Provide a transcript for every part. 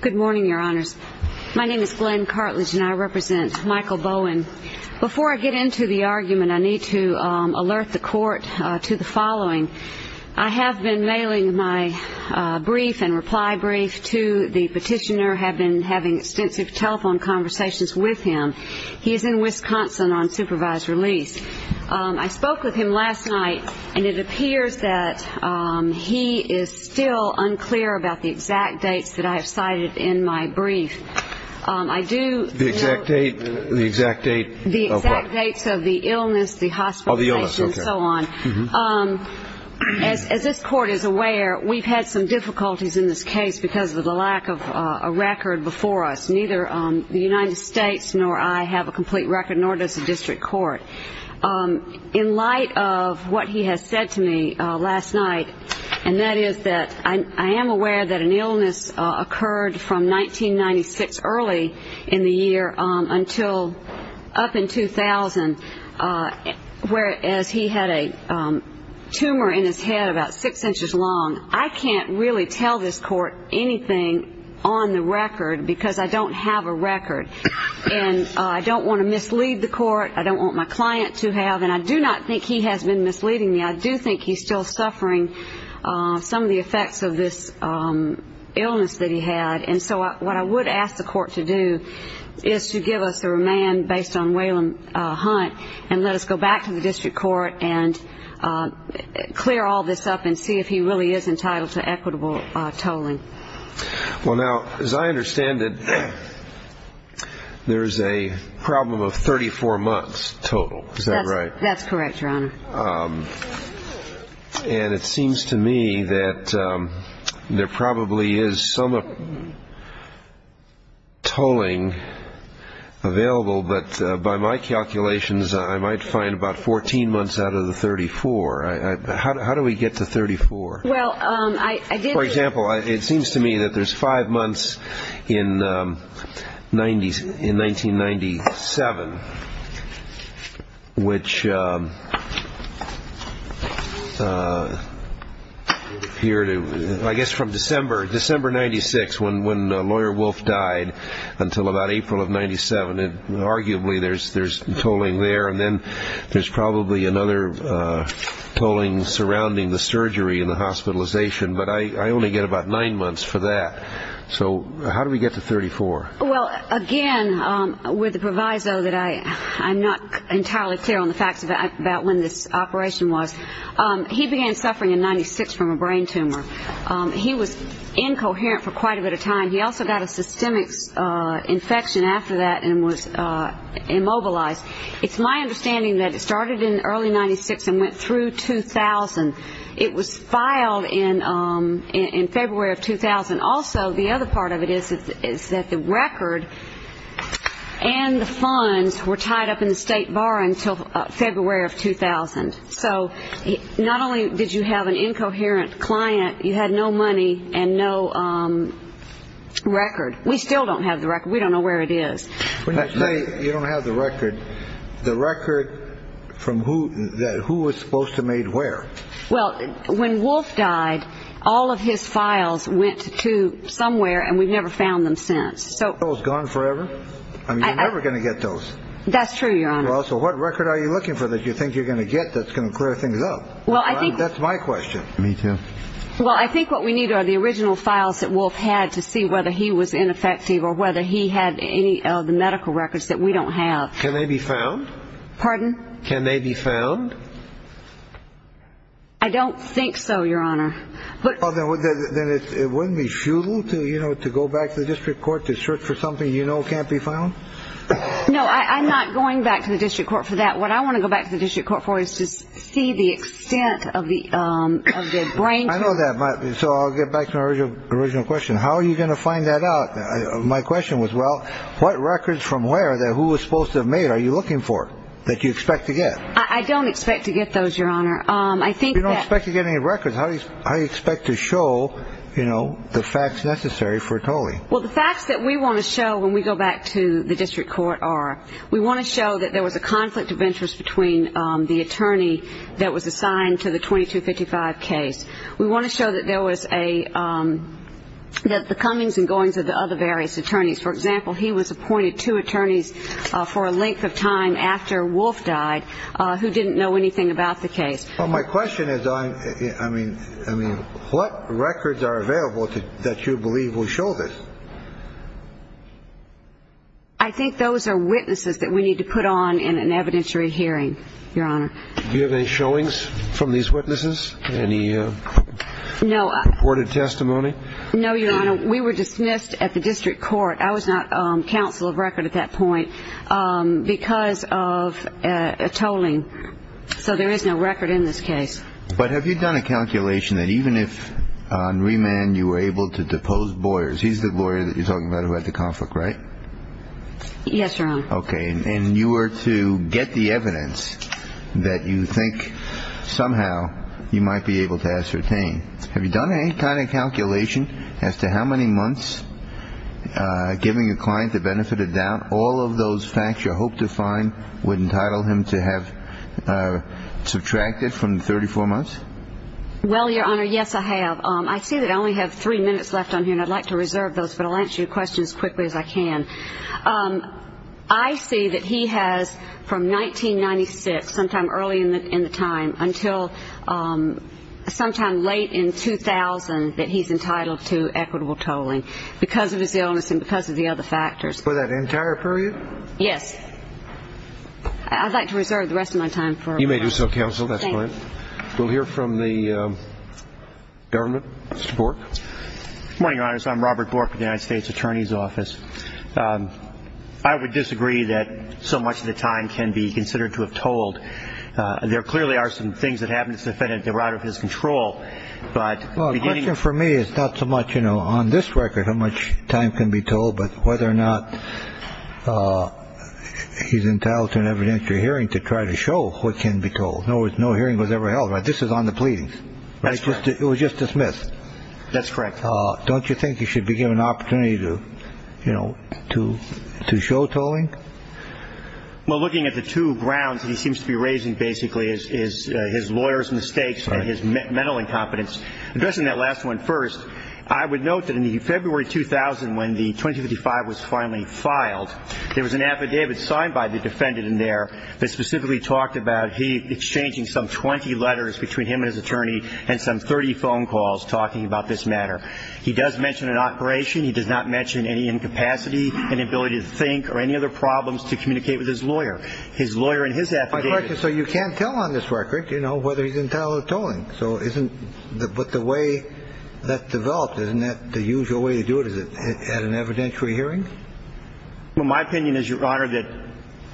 Good morning, your honors. My name is Glenn Cartlidge, and I represent Michael Bowen. Before I get into the argument, I need to alert the court to the following. I have been mailing my brief and reply brief to the petitioner, have been having extensive telephone conversations with him. He is in Wisconsin on supervised release. I spoke with him last night, and it appears that he is still unclear about the exact dates that I have cited in my brief. The exact date of what? The exact dates of the illness, the hospitalization, and so on. As this court is aware, we've had some difficulties in this case because of the lack of a record before us. Neither the United States nor I have a complete record, nor does the district court. But in light of what he has said to me last night, and that is that I am aware that an illness occurred from 1996 early in the year until up in 2000, whereas he had a tumor in his head about six inches long. I can't really tell this court anything on the record because I don't have a record. And I don't want to mislead the court. I don't want my client to have. And I do not think he has been misleading me. I do think he's still suffering some of the effects of this illness that he had. And so what I would ask the court to do is to give us a remand based on Waylon Hunt and let us go back to the district court and clear all this up and see if he really is entitled to equitable tolling. Well, now, as I understand it, there is a problem of 34 months total. Is that right? That's correct, Your Honor. And it seems to me that there probably is some tolling available. But by my calculations, I might find about 14 months out of the 34. How do we get to 34? For example, it seems to me that there's five months in 1997, which I guess from December 1996 when Lawyer Wolf died until about April of 1997. Arguably, there's tolling there. And then there's probably another tolling surrounding the surgery and the hospitalization. But I only get about nine months for that. So how do we get to 34? Well, again, with the proviso that I'm not entirely clear on the facts about when this operation was, he began suffering in 1996 from a brain tumor. He was incoherent for quite a bit of time. He also got a systemic infection after that and was immobilized. It's my understanding that it started in early 1996 and went through 2000. It was filed in February of 2000. Also, the other part of it is that the record and the funds were tied up in the state bar until February of 2000. So not only did you have an incoherent client, you had no money and no record. We still don't have the record. We don't know where it is. When you say you don't have the record, the record from who was supposed to made where? Well, when Wolf died, all of his files went to somewhere, and we've never found them since. So those are gone forever? I mean, you're never going to get those. That's true, Your Honor. Well, so what record are you looking for that you think you're going to get that's going to clear things up? That's my question. Me, too. Well, I think what we need are the original files that Wolf had to see whether he was ineffective or whether he had any of the medical records that we don't have. Can they be found? Pardon? Can they be found? I don't think so, Your Honor. Then it wouldn't be futile to go back to the district court to search for something you know can't be found? No, I'm not going back to the district court for that. What I want to go back to the district court for is to see the extent of the brain team. I know that. So I'll get back to my original question. How are you going to find that out? My question was, well, what records from where that who was supposed to have made are you looking for that you expect to get? I don't expect to get those, Your Honor. You don't expect to get any records. How do you expect to show, you know, the facts necessary for Tole? Well, the facts that we want to show when we go back to the district court are we want to show that there was a conflict of interest between the attorney that was assigned to the 2255 case. We want to show that there was a the comings and goings of the other various attorneys. For example, he was appointed two attorneys for a length of time after Wolf died who didn't know anything about the case. My question is, I mean, I mean, what records are available that you believe will show this? I think those are witnesses that we need to put on in an evidentiary hearing. Your Honor. Do you have any showings from these witnesses? Any no reported testimony? No, Your Honor. We were dismissed at the district court. I was not counsel of record at that point because of a tolling. So there is no record in this case. But have you done a calculation that even if on remand you were able to depose Boyers, he's the lawyer that you're talking about who had the conflict, right? Yes, Your Honor. Okay. And you were to get the evidence that you think somehow you might be able to ascertain. Have you done any kind of calculation as to how many months giving a client the benefit of doubt? All of those facts you hope to find would entitle him to have subtracted from 34 months? Well, Your Honor, yes, I have. I see that I only have three minutes left on here, and I'd like to reserve those, but I'll answer your question as quickly as I can. I see that he has from 1996, sometime early in the time, until sometime late in 2000, that he's entitled to equitable tolling because of his illness and because of the other factors. For that entire period? Yes. I'd like to reserve the rest of my time for remarks. You may do so, counsel. That's fine. We'll hear from the government. Mr. Bork. Good morning, Your Honors. I'm Robert Bork with the United States Attorney's Office. I would disagree that so much of the time can be considered to have tolled. There clearly are some things that happen that's dependent on the route of his control. Well, the question for me is not so much, you know, on this record how much time can be tolled, but whether or not he's entitled to an evidentiary hearing to try to show what can be told. In other words, no hearing was ever held. This is on the pleadings. It was just dismissed. That's correct. Don't you think he should be given an opportunity to, you know, to show tolling? Well, looking at the two grounds that he seems to be raising basically is his lawyer's mistakes and his mental incompetence. Addressing that last one first, I would note that in February 2000, when the 2055 was finally filed, there was an affidavit signed by the defendant in there that specifically talked about he exchanging some 20 letters between him and his attorney and some 30 phone calls talking about this matter. He does mention an operation. He does not mention any incapacity, inability to think, or any other problems to communicate with his lawyer. His lawyer and his affidavit. So you can't tell on this record, you know, whether he's entitled to tolling. But the way that developed, isn't that the usual way to do it? Is it at an evidentiary hearing? Well, my opinion is, Your Honor, that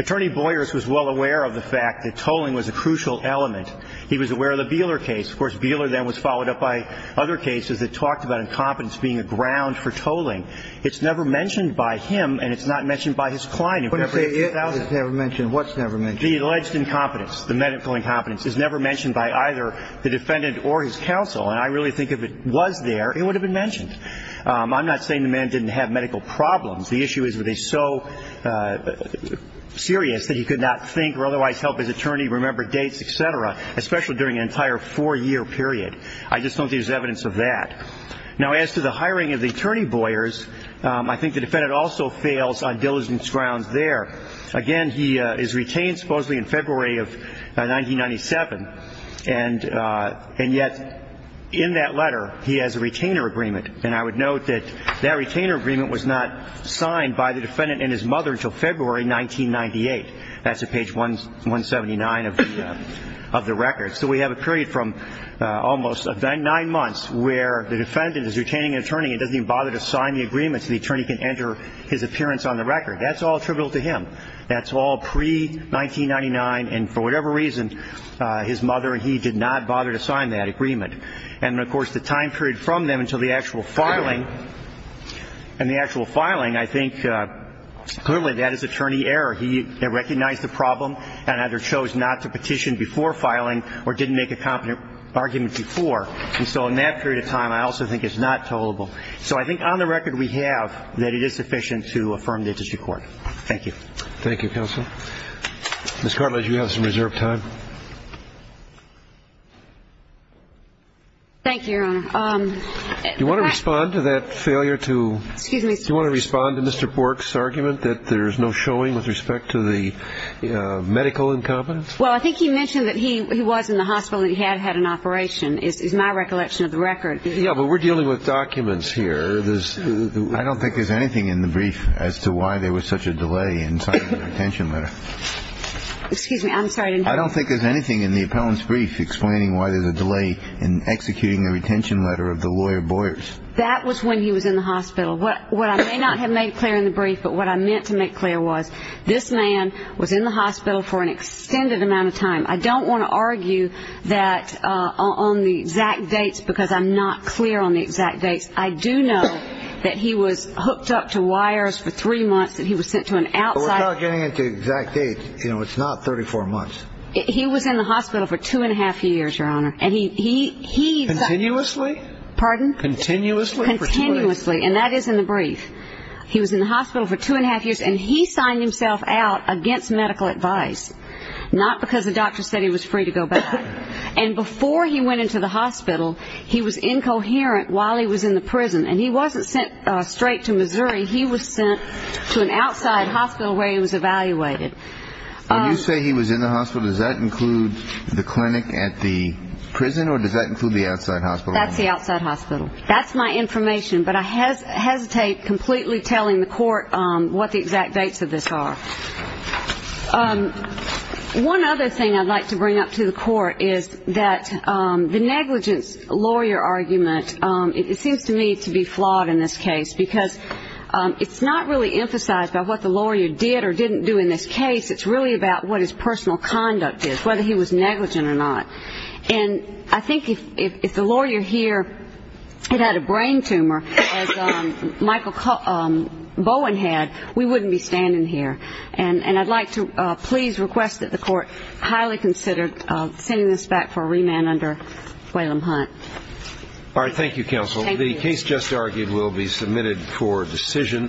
Attorney Boyers was well aware of the fact that tolling was a crucial element. He was aware of the Beeler case. Of course, Beeler then was followed up by other cases that talked about incompetence being a ground for tolling. It's never mentioned by him, and it's not mentioned by his client in February 2000. It's never mentioned. What's never mentioned? The alleged incompetence, the medical incompetence, is never mentioned by either the defendant or his counsel. And I really think if it was there, it would have been mentioned. I'm not saying the man didn't have medical problems. The issue is that he's so serious that he could not think or otherwise help his attorney remember dates, et cetera, especially during an entire four-year period. I just don't think there's evidence of that. Now, as to the hiring of the Attorney Boyers, I think the defendant also fails on diligence grounds there. Again, he is retained supposedly in February of 1997, and yet in that letter he has a retainer agreement. And I would note that that retainer agreement was not signed by the defendant and his mother until February 1998. That's at page 179 of the record. So we have a period from almost nine months where the defendant is retaining an attorney and doesn't even bother to sign the agreement so the attorney can enter his appearance on the record. That's all attributable to him. That's all pre-1999, and for whatever reason, his mother and he did not bother to sign that agreement. And, of course, the time period from then until the actual filing, and the actual filing, I think clearly that is attorney error. He recognized the problem and either chose not to petition before filing or didn't make a competent argument before. And so in that period of time, I also think it's not tollable. So I think on the record we have that it is sufficient to affirm the district court. Thank you. Thank you, counsel. Ms. Cartlidge, you have some reserved time. Thank you, Your Honor. Do you want to respond to that failure to ---- Excuse me. Do you want to respond to Mr. Bork's argument that there's no showing with respect to the medical incompetence? Well, I think he mentioned that he was in the hospital and he had had an operation is my recollection of the record. Yeah, but we're dealing with documents here. I don't think there's anything in the brief as to why there was such a delay in signing the retention letter. Excuse me. I'm sorry. I don't think there's anything in the appellant's brief explaining why there's a delay in executing the retention letter of the lawyer Boyers. That was when he was in the hospital. What I may not have made clear in the brief, but what I meant to make clear was this man was in the hospital for an extended amount of time. I don't want to argue that on the exact dates because I'm not clear on the exact dates. I do know that he was hooked up to wires for three months, that he was sent to an outside ---- We're not getting into exact dates. You know, it's not 34 months. He was in the hospital for two and a half years, Your Honor, and he ---- Continuously? Pardon? Continuously? Continuously, and that is in the brief. He was in the hospital for two and a half years, and he signed himself out against medical advice, not because the doctor said he was free to go back. And before he went into the hospital, he was incoherent while he was in the prison, and he wasn't sent straight to Missouri. He was sent to an outside hospital where he was evaluated. When you say he was in the hospital, does that include the clinic at the prison, or does that include the outside hospital? That's the outside hospital. That's my information, but I hesitate completely telling the court what the exact dates of this are. One other thing I'd like to bring up to the court is that the negligence lawyer argument, it seems to me to be flawed in this case because it's not really emphasized by what the lawyer did or didn't do in this case. It's really about what his personal conduct is, whether he was negligent or not. And I think if the lawyer here had had a brain tumor as Michael Bowen had, we wouldn't be standing here. And I'd like to please request that the court highly consider sending this back for a remand under Whalum Hunt. All right. Thank you, counsel. Thank you. The case just argued will be submitted for decision.